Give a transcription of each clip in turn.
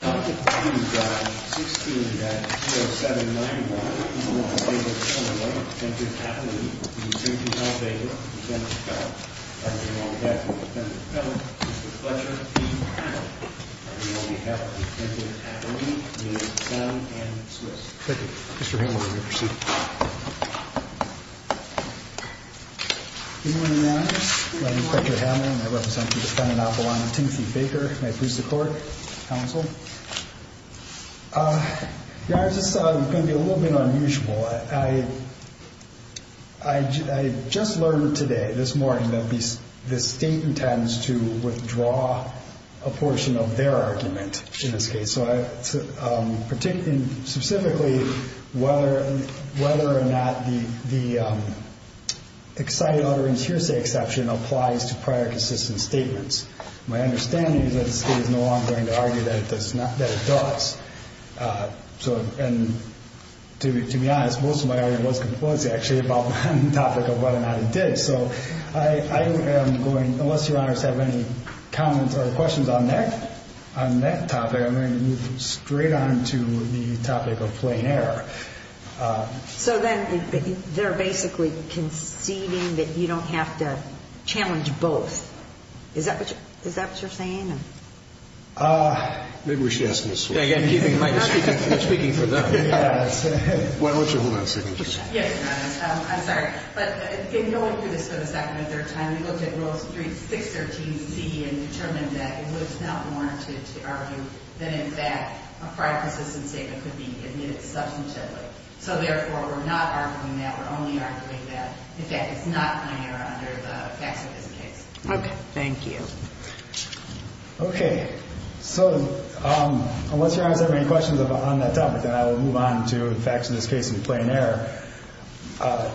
16-0791, I'm on behalf of the Assembly of the United States Senate and the Swiss. Thank you. Mr. Hamlin, will you proceed? Good morning, Your Honor. My name is Richard Hamlin. I represent the defendant Appalachian, Timothy Baker, my proof of court counsel. Your Honor, this is going to be a little bit unusual. I just learned today, this morning, that the state intends to withdraw a portion of their argument in this case. Specifically, whether or not the excited utterance hearsay exception applies to prior consistent statements. My understanding is that the state is no longer going to argue that it does. To be honest, most of my argument was compulsive, actually, about the topic of whether or not it did. So I am going, unless Your Honor has any comments or questions on that, on that topic, I'm going to move straight on to the topic of plain error. So then they're basically conceding that you don't have to challenge both. Is that what you're saying? Maybe we should ask them this way. I'm speaking for them. Why don't you hold on a second. Yes, Your Honor. I'm sorry. But in going through this for the second or third time, we looked at Rule 613C and determined that it was not warranted to argue that, in fact, a prior consistent statement could be admitted substantively. So, therefore, we're not arguing that. We're only arguing that, in fact, it's not plain error under the facts of this case. Okay. Thank you. Okay. So, unless Your Honor has any questions on that topic, then I will move on to the facts of this case in plain error. I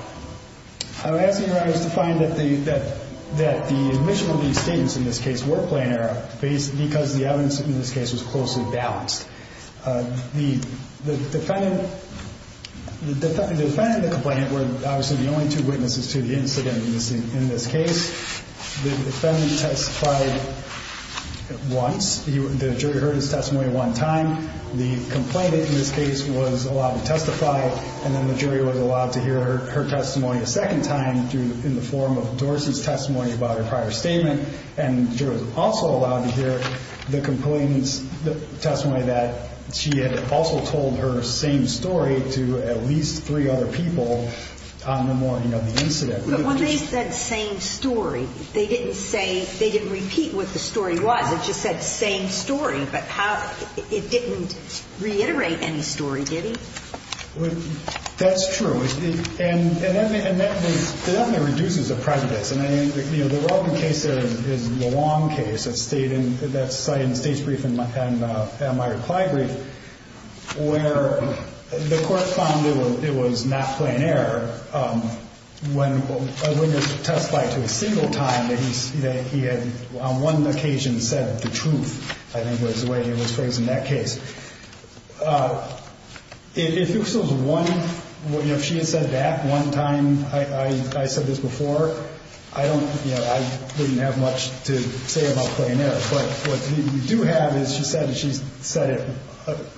would ask Your Honor to find that the admission of these statements in this case were plain error because the evidence in this case was closely balanced. The defendant and the complainant were obviously the only two witnesses to the incident in this case. The defendant testified once. The jury heard his testimony one time. The complainant in this case was allowed to testify, and then the jury was allowed to hear her testimony a second time in the form of Dorsey's testimony about her prior statement. And the jury was also allowed to hear the complainant's testimony that she had also told her same story to at least three other people on the morning of the incident. But when they said same story, they didn't say they didn't repeat what the story was. It just said same story. But how – it didn't reiterate any story, did it? That's true. And that definitely reduces the prejudice. And, you know, the relevant case there is the Wong case that stayed in – that's cited in State's brief in Meyer-Clybury, where the court found it was not plain error when a witness testified to a single time that he had on one occasion said the truth, I think was the way he was phrasing that case. If it was one – you know, if she had said that one time, I said this before, I don't – you know, I wouldn't have much to say about plain error. But what we do have is she said that she said it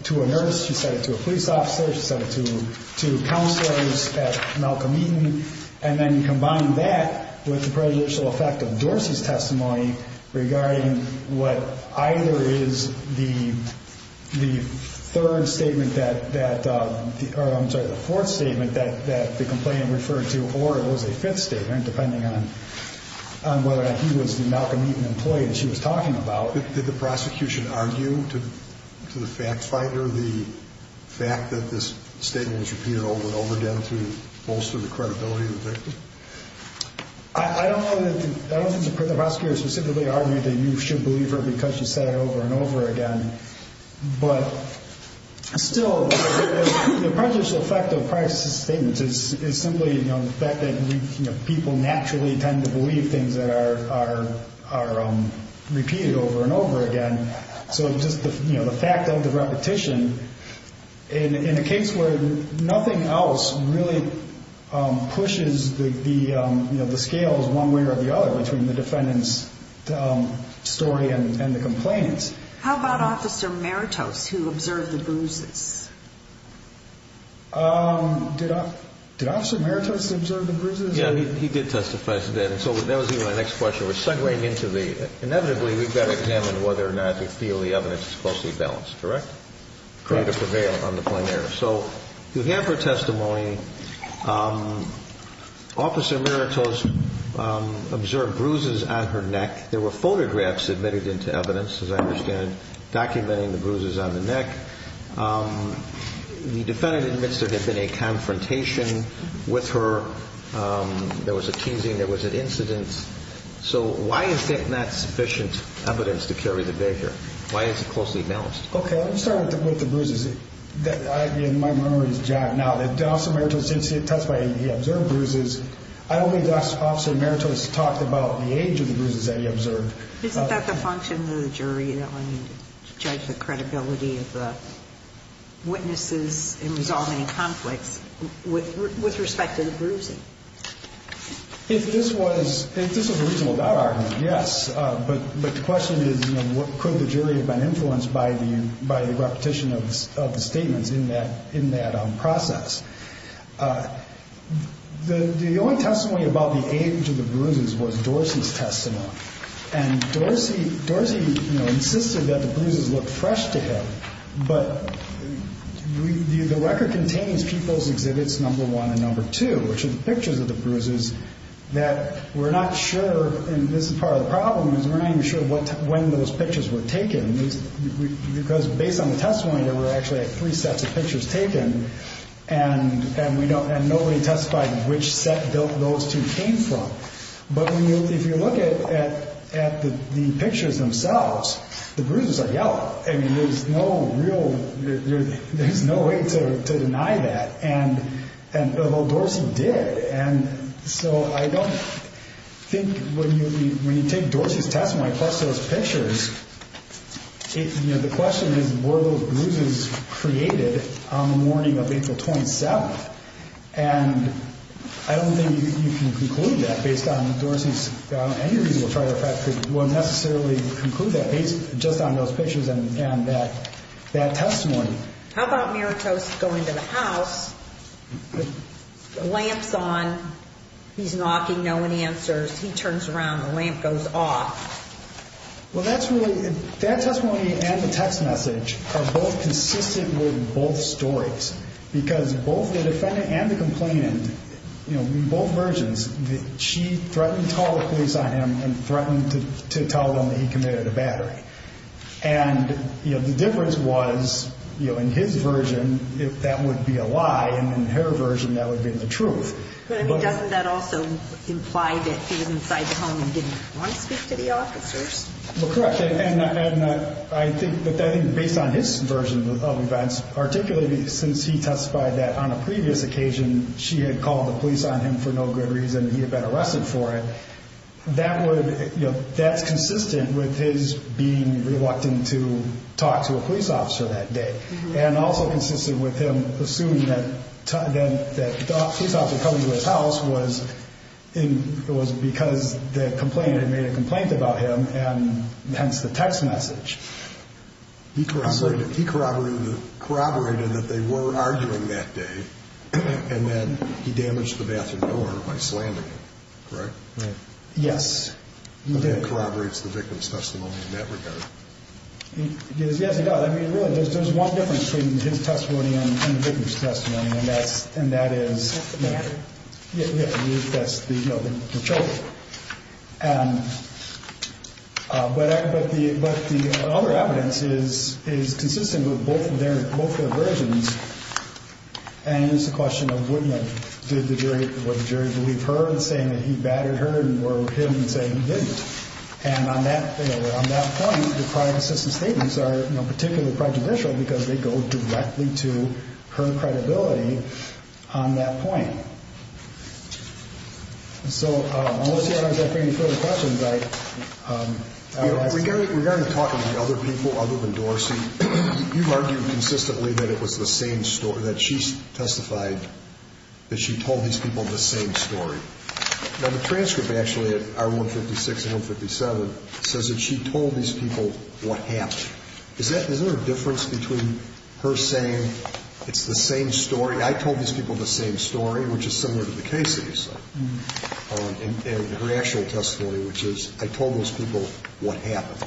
to a nurse, she said it to a police officer, she said it to counselors at Malcolm Eaton. And then you combine that with the prejudicial effect of Dorsey's testimony regarding what either is the third statement that – or I'm sorry, the fourth statement that the complainant referred to, or it was a fifth statement, depending on whether he was the Malcolm Eaton employee that she was talking about. Did the prosecution argue to the fact finder the fact that this statement was repeated over and over again to bolster the credibility of the victim? I don't know that – I don't think the prosecutor specifically argued that you should believe her because she said it over and over again. But still, the prejudicial effect of Price's statement is simply, you know, the fact that, you know, people naturally tend to believe things that are repeated over and over again. So just, you know, the fact of the repetition in a case where nothing else really pushes the scales one way or the other between the defendant's story and the complainant's. How about Officer Maritos who observed the bruises? Did Officer Maritos observe the bruises? Yeah, he did testify today, and so that would be my next question. We're segueing into the – inevitably, we've got to examine whether or not we feel the evidence is closely balanced, correct? Correct. To prevail on the plenary. So you have her testimony. Officer Maritos observed bruises on her neck. There were photographs submitted into evidence, as I understand, documenting the bruises on the neck. The defendant admits there had been a confrontation with her. There was a teasing. There was an incident. So why is it not sufficient evidence to carry the vigor? Why is it closely balanced? Okay, let me start with the bruises. In my memory, it's John. Now, Officer Maritos did testify. He observed bruises. I don't think Officer Maritos talked about the age of the bruises that he observed. Isn't that the function of the jury to judge the credibility of the witnesses in resolving conflicts with respect to the bruising? If this was a reasonable doubt argument, yes. But the question is, you know, could the jury have been influenced by the repetition of the statements in that process? The only testimony about the age of the bruises was Dorsey's testimony. And Dorsey, you know, insisted that the bruises looked fresh to him. But the record contains people's exhibits number one and number two, which are the pictures of the bruises, that we're not sure, and this is part of the problem, is we're not even sure when those pictures were taken. Because based on the testimony, there were actually three sets of pictures taken, and nobody testified which set those two came from. But if you look at the pictures themselves, the bruises are yellow. I mean, there's no real – there's no way to deny that, and although Dorsey did. And so I don't think when you take Dorsey's testimony plus those pictures, you know, the question is, were those bruises created on the morning of April 27th? And I don't think you can conclude that based on Dorsey's – any of these will try to – won't necessarily conclude that based just on those pictures and that testimony. How about Maritose going to the house, the lamp's on, he's knocking, no one answers. He turns around, the lamp goes off. Well, that's really – that testimony and the text message are both consistent with both stories. Because both the defendant and the complainant, you know, in both versions, she threatened to call the police on him and threatened to tell them that he committed a battery. And, you know, the difference was, you know, in his version, that would be a lie. And in her version, that would be the truth. But doesn't that also imply that he was inside the home and didn't want to speak to the officers? Well, correct. And I think that based on his version of events, particularly since he testified that on a previous occasion she had called the police on him for no good reason and he had been arrested for it, that's consistent with his being reluctant to talk to a police officer that day. And also consistent with him assuming that the police officer coming to his house was because the complainant had made a complaint about him and hence the text message. He corroborated that they were arguing that day and then he damaged the bathroom door by slamming it, correct? Right. Yes, he did. But he corroborates the victim's testimony in that regard. Yes, he does. I mean, really, there's one difference between his testimony and the victim's testimony, and that is… That's the matter. Yeah, that's the, you know, the truth. But the other evidence is consistent with both their versions. And it's a question of, you know, did the jury believe her in saying that he battered her or him in saying he didn't. And on that point, the prior assistant's statements are, you know, particularly prejudicial because they go directly to her credibility on that point. So, unless you have any further questions, I… Regarding talking to other people other than Dorsey, you've argued consistently that it was the same story, that she testified that she told these people the same story. Now, the transcript actually at R156 and R157 says that she told these people what happened. Is there a difference between her saying it's the same story, I told these people the same story, which is similar to the case that you said, and her actual testimony, which is I told those people what happened.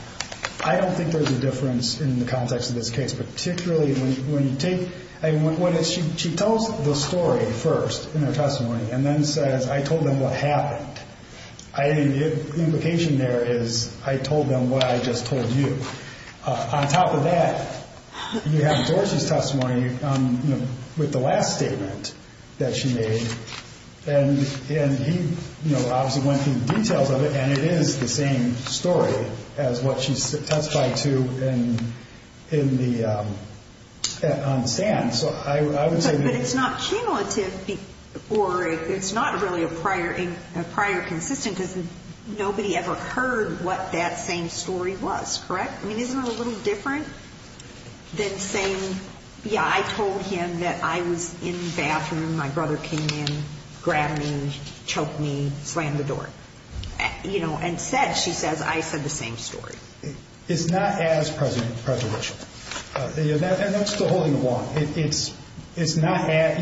I don't think there's a difference in the context of this case, particularly when you take… She tells the story first in her testimony and then says I told them what happened. The implication there is I told them what I just told you. On top of that, you have Dorsey's testimony with the last statement that she made, and he obviously went through the details of it, and it is the same story as what she testified to on the stand. But it's not cumulative or it's not really a prior consistent because nobody ever heard what that same story was, correct? I mean, isn't it a little different than saying, yeah, I told him that I was in the bathroom, my brother came in, grabbed me, choked me, slammed the door. And said, she says, I said the same story. It's not as present prejudicial. And that's still holding the wall. It's not as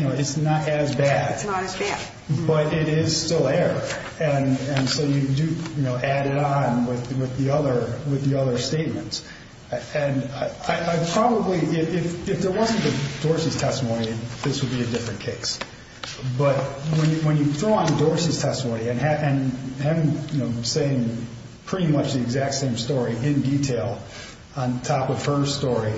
bad. It's not as bad. But it is still there. And so you do add it on with the other statements. And I probably, if there wasn't Dorsey's testimony, this would be a different case. But when you throw on Dorsey's testimony and him saying pretty much the exact same story in detail on top of her story,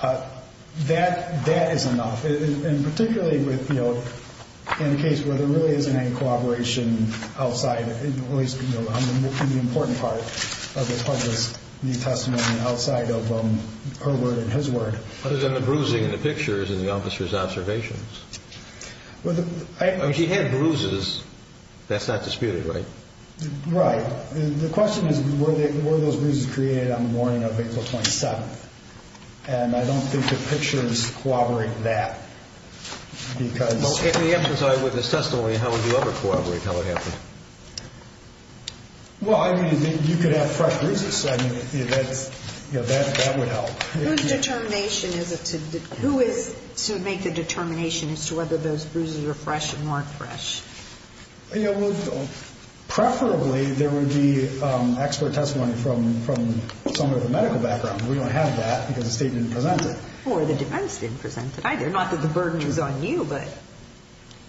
that is enough. And particularly in a case where there really isn't any collaboration outside, in the important part of the testimony outside of her word and his word. Other than the bruising in the pictures and the officer's observations. She had bruises. That's not disputed, right? Right. The question is, were those bruises created on the morning of April 27th? And I don't think the pictures corroborate that. In the absence of this testimony, how would you ever corroborate how it happened? Well, I mean, you could have fresh bruises. I mean, that would help. Who is to make the determination as to whether those bruises are fresh and weren't fresh? You know, preferably there would be expert testimony from someone with a medical background. We don't have that because the state didn't present it. Or the defense didn't present it either. Not that the burden is on you, but.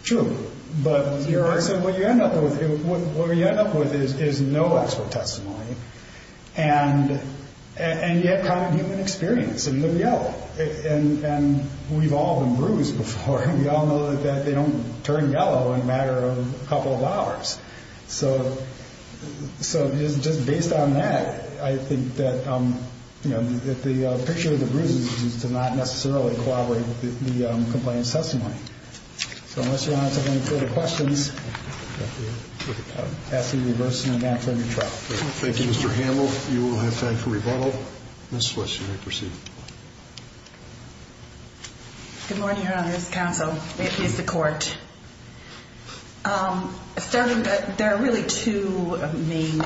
True. But what you end up with is no expert testimony. And you have common human experience and look yellow. And we've all been bruised before. We all know that they don't turn yellow in a matter of a couple of hours. So just based on that, I think that the picture of the bruises is to not necessarily corroborate the complaint's testimony. So unless you want to answer any further questions, I'm asking you to reverse and advance on your trial. Thank you, Mr. Handel. You will have time for rebuttal. Ms. Swish, you may proceed. Good morning, Your Honors. Counsel. May it please the Court. There are really two main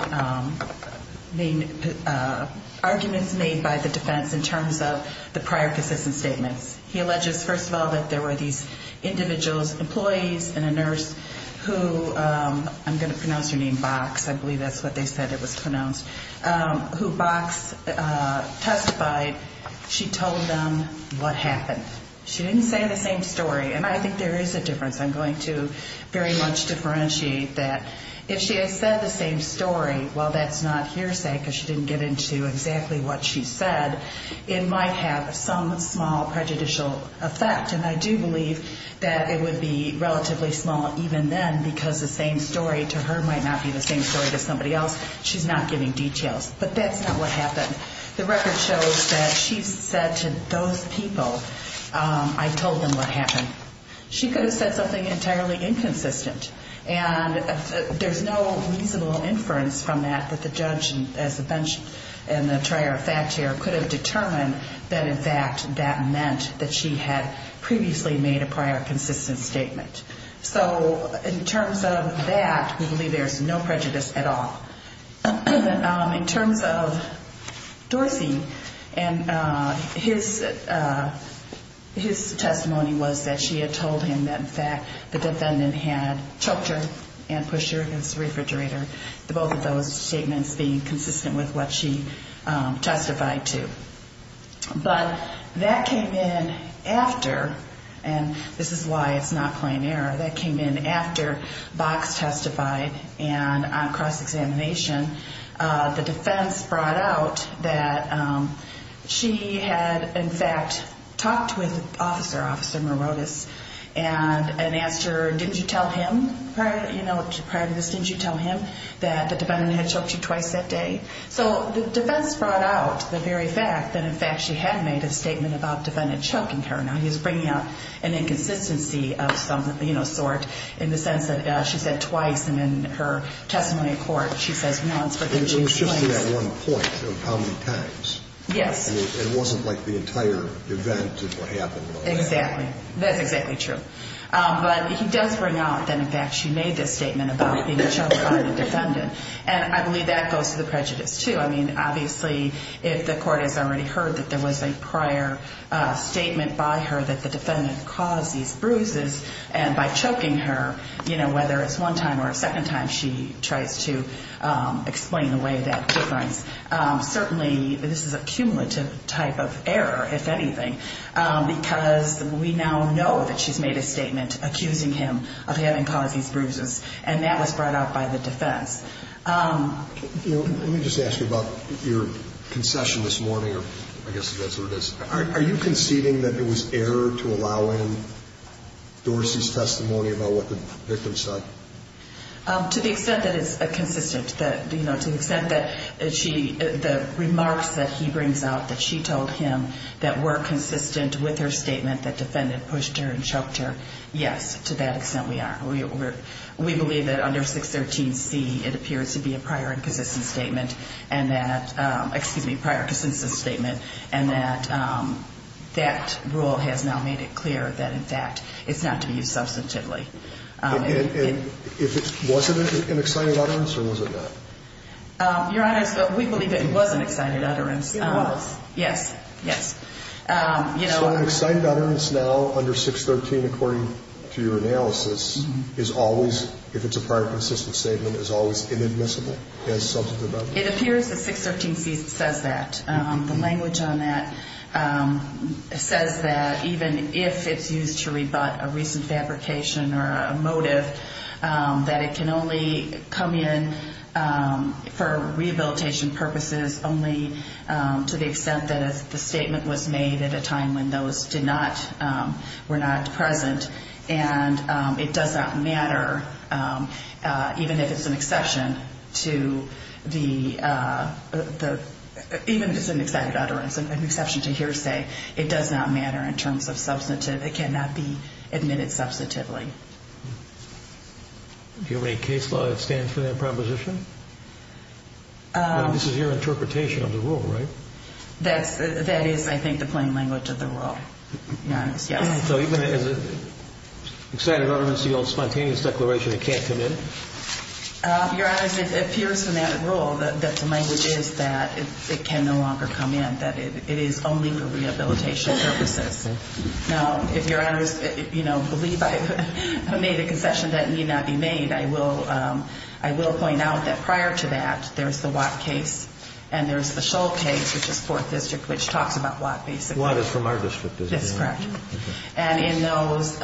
arguments made by the defense in terms of the prior consistent statements. He alleges, first of all, that there were these individuals, employees and a nurse who, I'm going to pronounce her name Box, I believe that's what they said it was pronounced, who Box testified. She told them what happened. She didn't say the same story. And I think there is a difference. I'm going to very much differentiate that. If she had said the same story, while that's not hearsay because she didn't get into exactly what she said, it might have some small prejudicial effect. And I do believe that it would be relatively small even then because the same story to her might not be the same story to somebody else. She's not giving details. But that's not what happened. The record shows that she said to those people, I told them what happened. She could have said something entirely inconsistent. And there's no reasonable inference from that that the judge, as the bench and the trier of fact here, could have determined that, in fact, that meant that she had previously made a prior consistent statement. So in terms of that, we believe there's no prejudice at all. In terms of Dorsey and his testimony was that she had told him that, in fact, the defendant had choked her and pushed her against the refrigerator, both of those statements being consistent with what she testified to. But that came in after, and this is why it's not plain error, that came in after Box testified and on cross-examination. The defense brought out that she had, in fact, talked with Officer Morotis and asked her, didn't you tell him prior to this, didn't you tell him that the defendant had choked you twice that day? So the defense brought out the very fact that, in fact, she had made a statement about the defendant choking her. Now, he's bringing out an inconsistency of some sort in the sense that she said twice, and in her testimony in court she says once. It was just that one point of how many times. Yes. It wasn't like the entire event of what happened. Exactly. That's exactly true. But he does bring out that, in fact, she made this statement about being choked by the defendant. And I believe that goes to the prejudice, too. I mean, obviously, if the court has already heard that there was a prior statement by her that the defendant caused these bruises, and by choking her, you know, whether it's one time or a second time, she tries to explain away that difference. Certainly, this is a cumulative type of error, if anything, because we now know that she's made a statement accusing him of having caused these bruises, and that was brought out by the defense. Let me just ask you about your concession this morning, or I guess that's what it is. Are you conceding that it was error to allow in Dorsey's testimony about what the victim said? To the extent that it's consistent, you know, to the extent that the remarks that he brings out that she told him that were consistent with her statement that the defendant pushed her and choked her, yes, to that extent we are. We believe that under 613C it appears to be a prior and consistent statement, and that, excuse me, prior and consistent statement, and that that rule has now made it clear that, in fact, it's not to be used substantively. And if it wasn't an excited utterance, or was it not? Your Honor, we believe it was an excited utterance. It was? Yes, yes. So an excited utterance now under 613, according to your analysis, is always, if it's a prior and consistent statement, is always inadmissible as substantive utterance? It appears that 613C says that. The language on that says that even if it's used to rebut a recent fabrication or a motive, that it can only come in for rehabilitation purposes only to the extent that the statement was made at a time when those did not, were not present, and it does not matter, even if it's an exception to the, even if it's an excited utterance, even if it's an exception to hearsay, it does not matter in terms of substantive. It cannot be admitted substantively. Do you have any case law that stands for that proposition? This is your interpretation of the rule, right? That is, I think, the plain language of the rule, Your Honor, yes. So even if it's an excited utterance, the old spontaneous declaration, it can't come in? Your Honor, it appears from that rule that the language is that it can no longer come in, that it is only for rehabilitation purposes. Now, if Your Honor, you know, believe I made a concession that need not be made, I will point out that prior to that, there's the Watt case and there's the Shull case, which is Fourth District, which talks about Watt basically. Watt is from our district, isn't it? That's correct. And in those,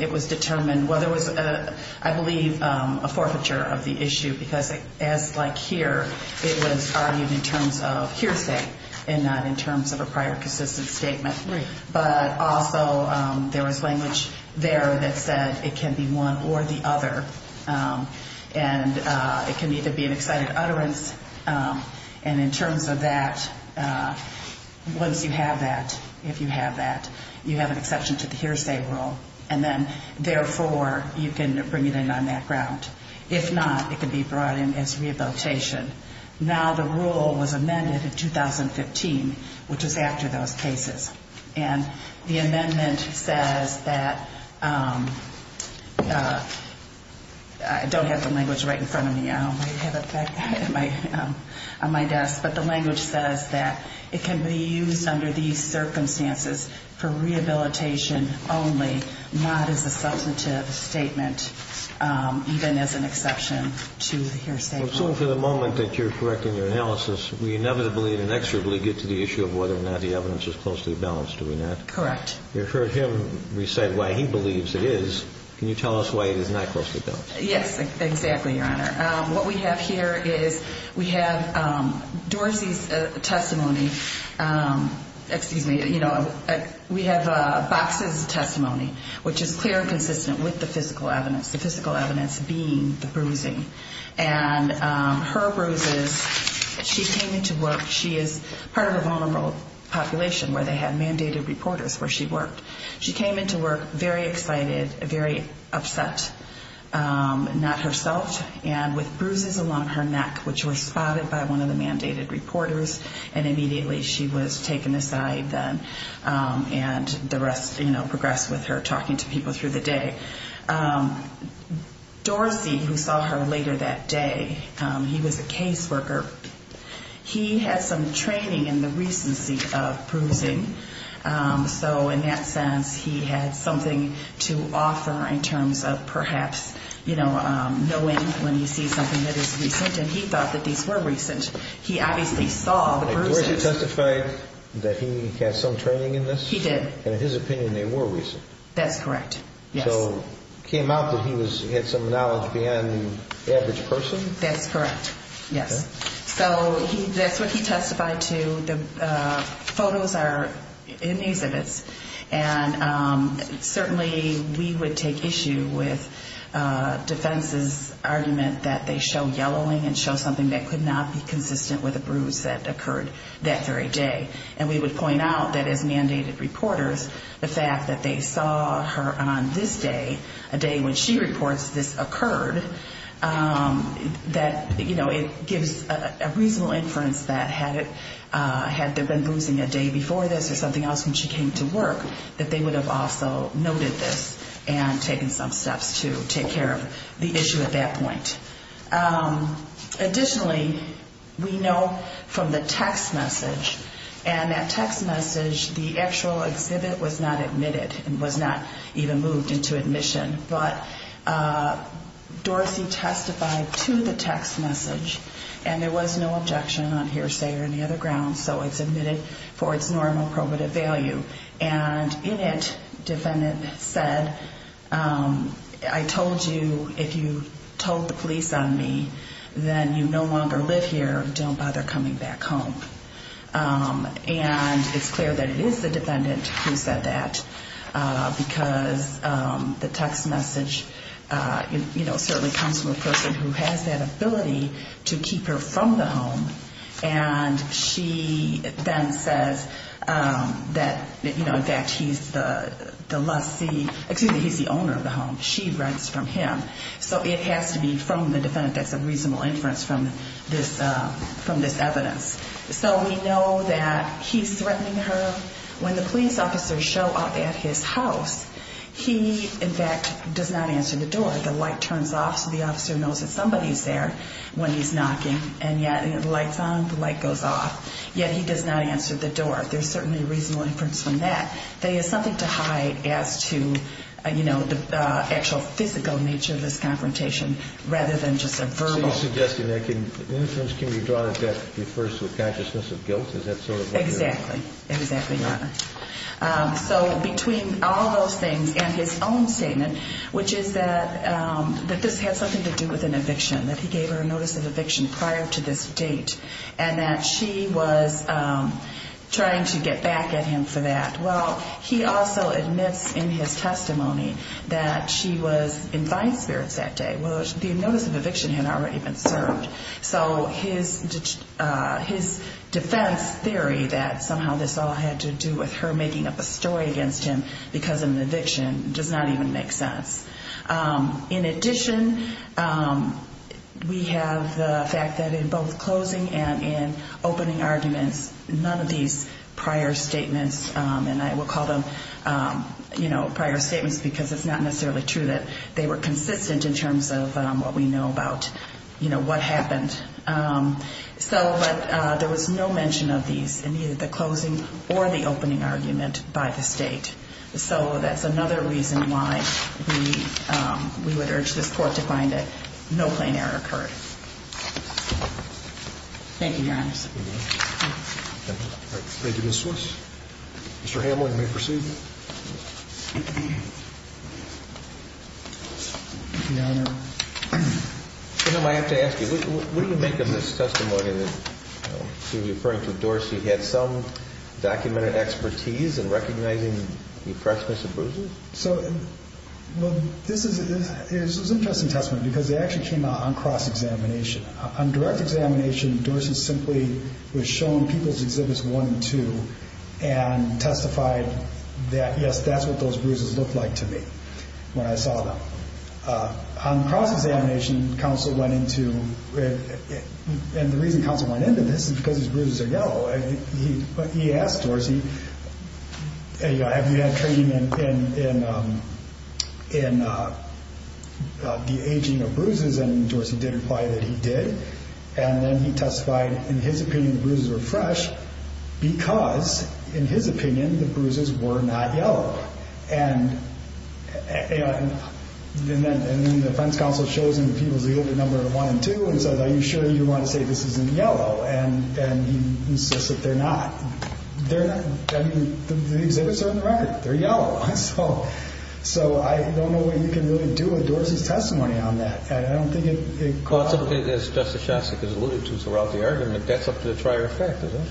it was determined whether it was, I believe, a forfeiture of the issue, because as like here, it was argued in terms of hearsay and not in terms of a prior consistent statement. Right. But also there was language there that said it can be one or the other, and it can either be an excited utterance, and in terms of that, once you have that, if you have that, you have an exception to the hearsay rule, and then therefore, you can bring it in on that ground. If not, it can be brought in as rehabilitation. Now, the rule was amended in 2015, which was after those cases. And the amendment says that I don't have the language right in front of me. I have it back on my desk. But the language says that it can be used under these circumstances for rehabilitation only, not as a substantive statement, even as an exception to hearsay. So for the moment that you're correcting your analysis, we inevitably and inexorably get to the issue of whether or not the evidence is closely balanced, do we not? Correct. You heard him recite why he believes it is. Can you tell us why it is not closely balanced? Yes, exactly, Your Honor. What we have here is we have Dorsey's testimony. Excuse me. You know, we have Box's testimony, which is clear and consistent with the physical evidence, the physical evidence being the bruising. And her bruises, she came into work. She is part of a vulnerable population where they had mandated reporters where she worked. She came into work very excited, very upset, not herself, and with bruises along her neck, which were spotted by one of the mandated reporters, and immediately she was taken aside then. And the rest, you know, progressed with her talking to people through the day. Dorsey, who saw her later that day, he was a caseworker. He had some training in the recency of bruising. So in that sense, he had something to offer in terms of perhaps, you know, knowing when you see something that is recent, and he thought that these were recent. He obviously saw the bruises. Did Dorsey testify that he had some training in this? He did. And in his opinion, they were recent. That's correct, yes. So it came out that he had some knowledge beyond the average person? That's correct, yes. So that's what he testified to. So the photos are in these exhibits, and certainly we would take issue with defense's argument that they show yellowing and show something that could not be consistent with a bruise that occurred that very day. And we would point out that as mandated reporters, the fact that they saw her on this day, a day when she reports this occurred, that, you know, it gives a reasonable inference that had there been bruising a day before this or something else when she came to work, that they would have also noted this and taken some steps to take care of the issue at that point. Additionally, we know from the text message, and that text message, the actual exhibit was not admitted and was not even moved into admission. But Dorsey testified to the text message, and there was no objection on hearsay or any other grounds, so it's admitted for its normal probative value. And in it, the defendant said, I told you if you told the police on me, then you no longer live here. Don't bother coming back home. And it's clear that it is the defendant who said that, because the text message, you know, certainly comes from a person who has that ability to keep her from the home. And she then says that, you know, in fact, he's the lessee, excuse me, he's the owner of the home. She writes from him. So it has to be from the defendant. That's a reasonable inference from this evidence. So we know that he's threatening her. When the police officers show up at his house, he, in fact, does not answer the door. The light turns off, so the officer knows that somebody's there when he's knocking. And yet, you know, the light's on, the light goes off. Yet he does not answer the door. There's certainly a reasonable inference from that that he has something to hide as to, you know, the actual physical nature of this confrontation rather than just a verbal. So you're suggesting that inference can be drawn if that refers to a consciousness of guilt? Is that sort of what you're saying? Exactly. Exactly, Your Honor. So between all those things and his own statement, which is that this has something to do with an eviction, that he gave her a notice of eviction prior to this date and that she was trying to get back at him for that. Well, he also admits in his testimony that she was in fine spirits that day. Well, the notice of eviction had already been served. So his defense theory that somehow this all had to do with her making up a story against him because of an eviction does not even make sense. In addition, we have the fact that in both closing and in opening arguments, none of these prior statements, and I will call them, you know, prior statements because it's not necessarily true that they were consistent in terms of what we know about, you know, what happened. But there was no mention of these in either the closing or the opening argument by the State. So that's another reason why we would urge this Court to find that no plain error occurred. Thank you, Your Honor. Thank you, Ms. Swiss. Mr. Hamlin, you may proceed. Your Honor. I have to ask you, what do you make of this testimony that seems to be referring to Dorsey Well, this is an interesting testimony because it actually came out on cross-examination. On direct examination, Dorsey simply was shown People's Exhibits 1 and 2 and testified that, yes, that's what those bruises looked like to me when I saw them. On cross-examination, counsel went into, and the reason counsel went into this is because his bruises are yellow. And he asked Dorsey, have you had training in the aging of bruises? And Dorsey did reply that he did. And then he testified, in his opinion, the bruises were fresh because, in his opinion, the bruises were not yellow. And then the defense counsel shows him People's Exhibits 1 and 2 and says, they're not. I mean, the exhibits are red. They're yellow. So I don't know what you can really do with Dorsey's testimony on that. I don't think it causes As Justice Shostak has alluded to throughout the argument, that's up to the trier effect, isn't it?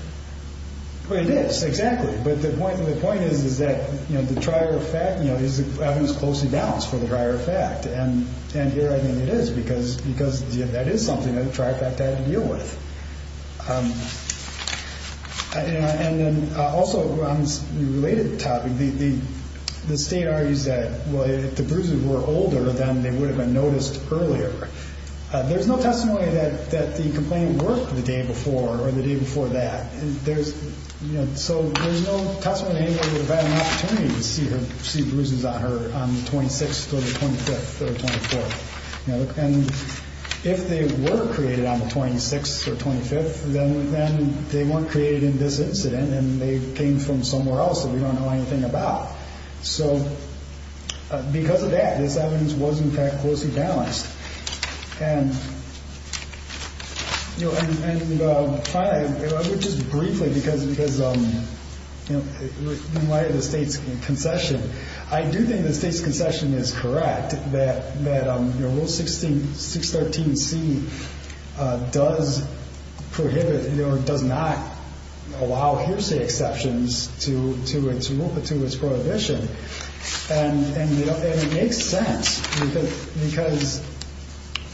It is, exactly. But the point is that the trier effect is evidence closely balanced for the trier effect. And here I think it is because that is something that the trier fact had to deal with. And then also on a related topic, the state argues that if the bruises were older, then they would have been noticed earlier. There's no testimony that the complaint worked the day before or the day before that. So there's no testimony anybody would have had an opportunity to see bruises on her on the 26th or the 25th or the 24th. And if they were created on the 26th or 25th, then they weren't created in this incident and they came from somewhere else that we don't know anything about. So because of that, this evidence was, in fact, closely balanced. And, you know, and finally, just briefly, because, you know, in light of the state's concession, I do think the state's concession is correct that Rule 613C does prohibit or does not allow hearsay exceptions to its rule but to its prohibition. And it makes sense because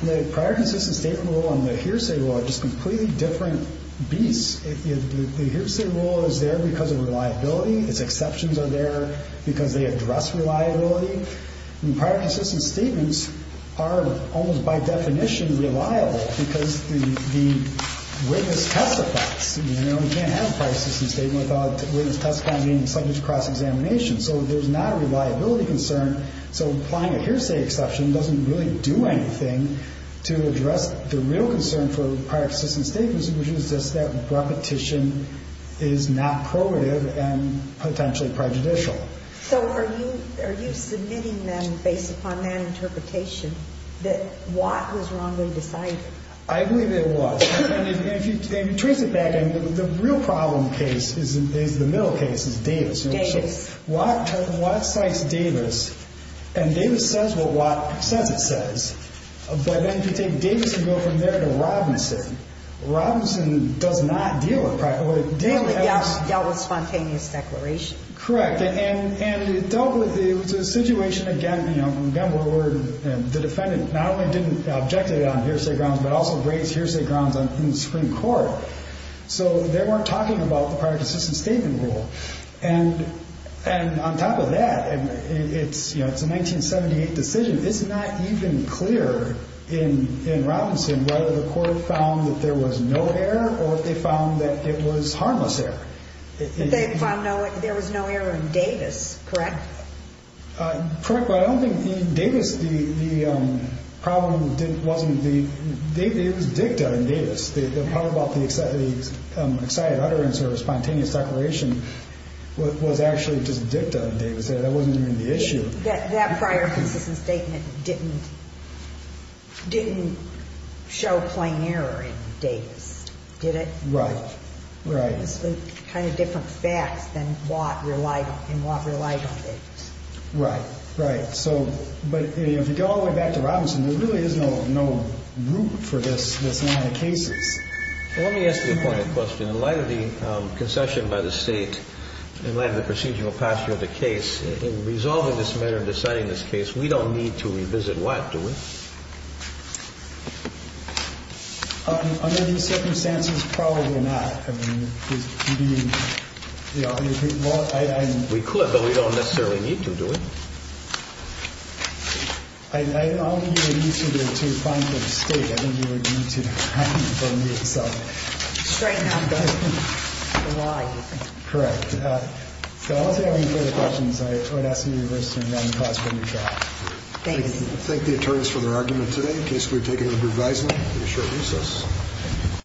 the prior consistent state rule and the hearsay rule are just completely different beasts. The hearsay rule is there because of reliability. Its exceptions are there because they address reliability. And prior consistent statements are almost by definition reliable because the witness testifies. You know, you can't have a prior consistent statement without a witness testifying and the subject's cross-examination. So there's not a reliability concern. So applying a hearsay exception doesn't really do anything to address the real concern for prior consistent statements, which is just that repetition is not prohibitive and potentially prejudicial. So are you submitting then, based upon that interpretation, that Watt was wrongly decided? I believe it was. And if you trace it back, the real problem case is the middle case, is Davis. Davis. Watt cites Davis, and Davis says what Watt says it says. But then if you take Davis and go from there to Robinson, Robinson does not deal with prior consistent statements. Really dealt with spontaneous declaration. Correct. And dealt with, it was a situation, again, where the defendant not only didn't object to it on hearsay grounds, but also raised hearsay grounds in the Supreme Court. So they weren't talking about the prior consistent statement rule. And on top of that, it's a 1978 decision. It's not even clear in Robinson whether the court found that there was no error or if they found that it was harmless error. They found there was no error in Davis, correct? Correct. But I don't think in Davis the problem wasn't the, it was dicta in Davis. The part about the excited utterance or spontaneous declaration was actually just dicta in Davis. That wasn't even the issue. That prior consistent statement didn't show plain error in Davis, did it? Right. Right. Kind of different facts than Watt relied on, and Watt relied on Davis. Right. Right. But if you go all the way back to Robinson, there really is no root for this line of cases. Let me ask you a pointed question. In light of the concession by the State, in light of the procedural posture of the case, in resolving this matter and deciding this case, we don't need to revisit Watt, do we? Under these circumstances, probably not. We could, but we don't necessarily need to, do we? I don't think you would need to find the State. I think you would need to find the State itself. Straighten out the line. Correct. So I don't think I have any further questions. I would ask that you rest and run the class for a new trial. Thank you. Thank the attorneys for their argument today. The case will be taken under advisement for a short recess.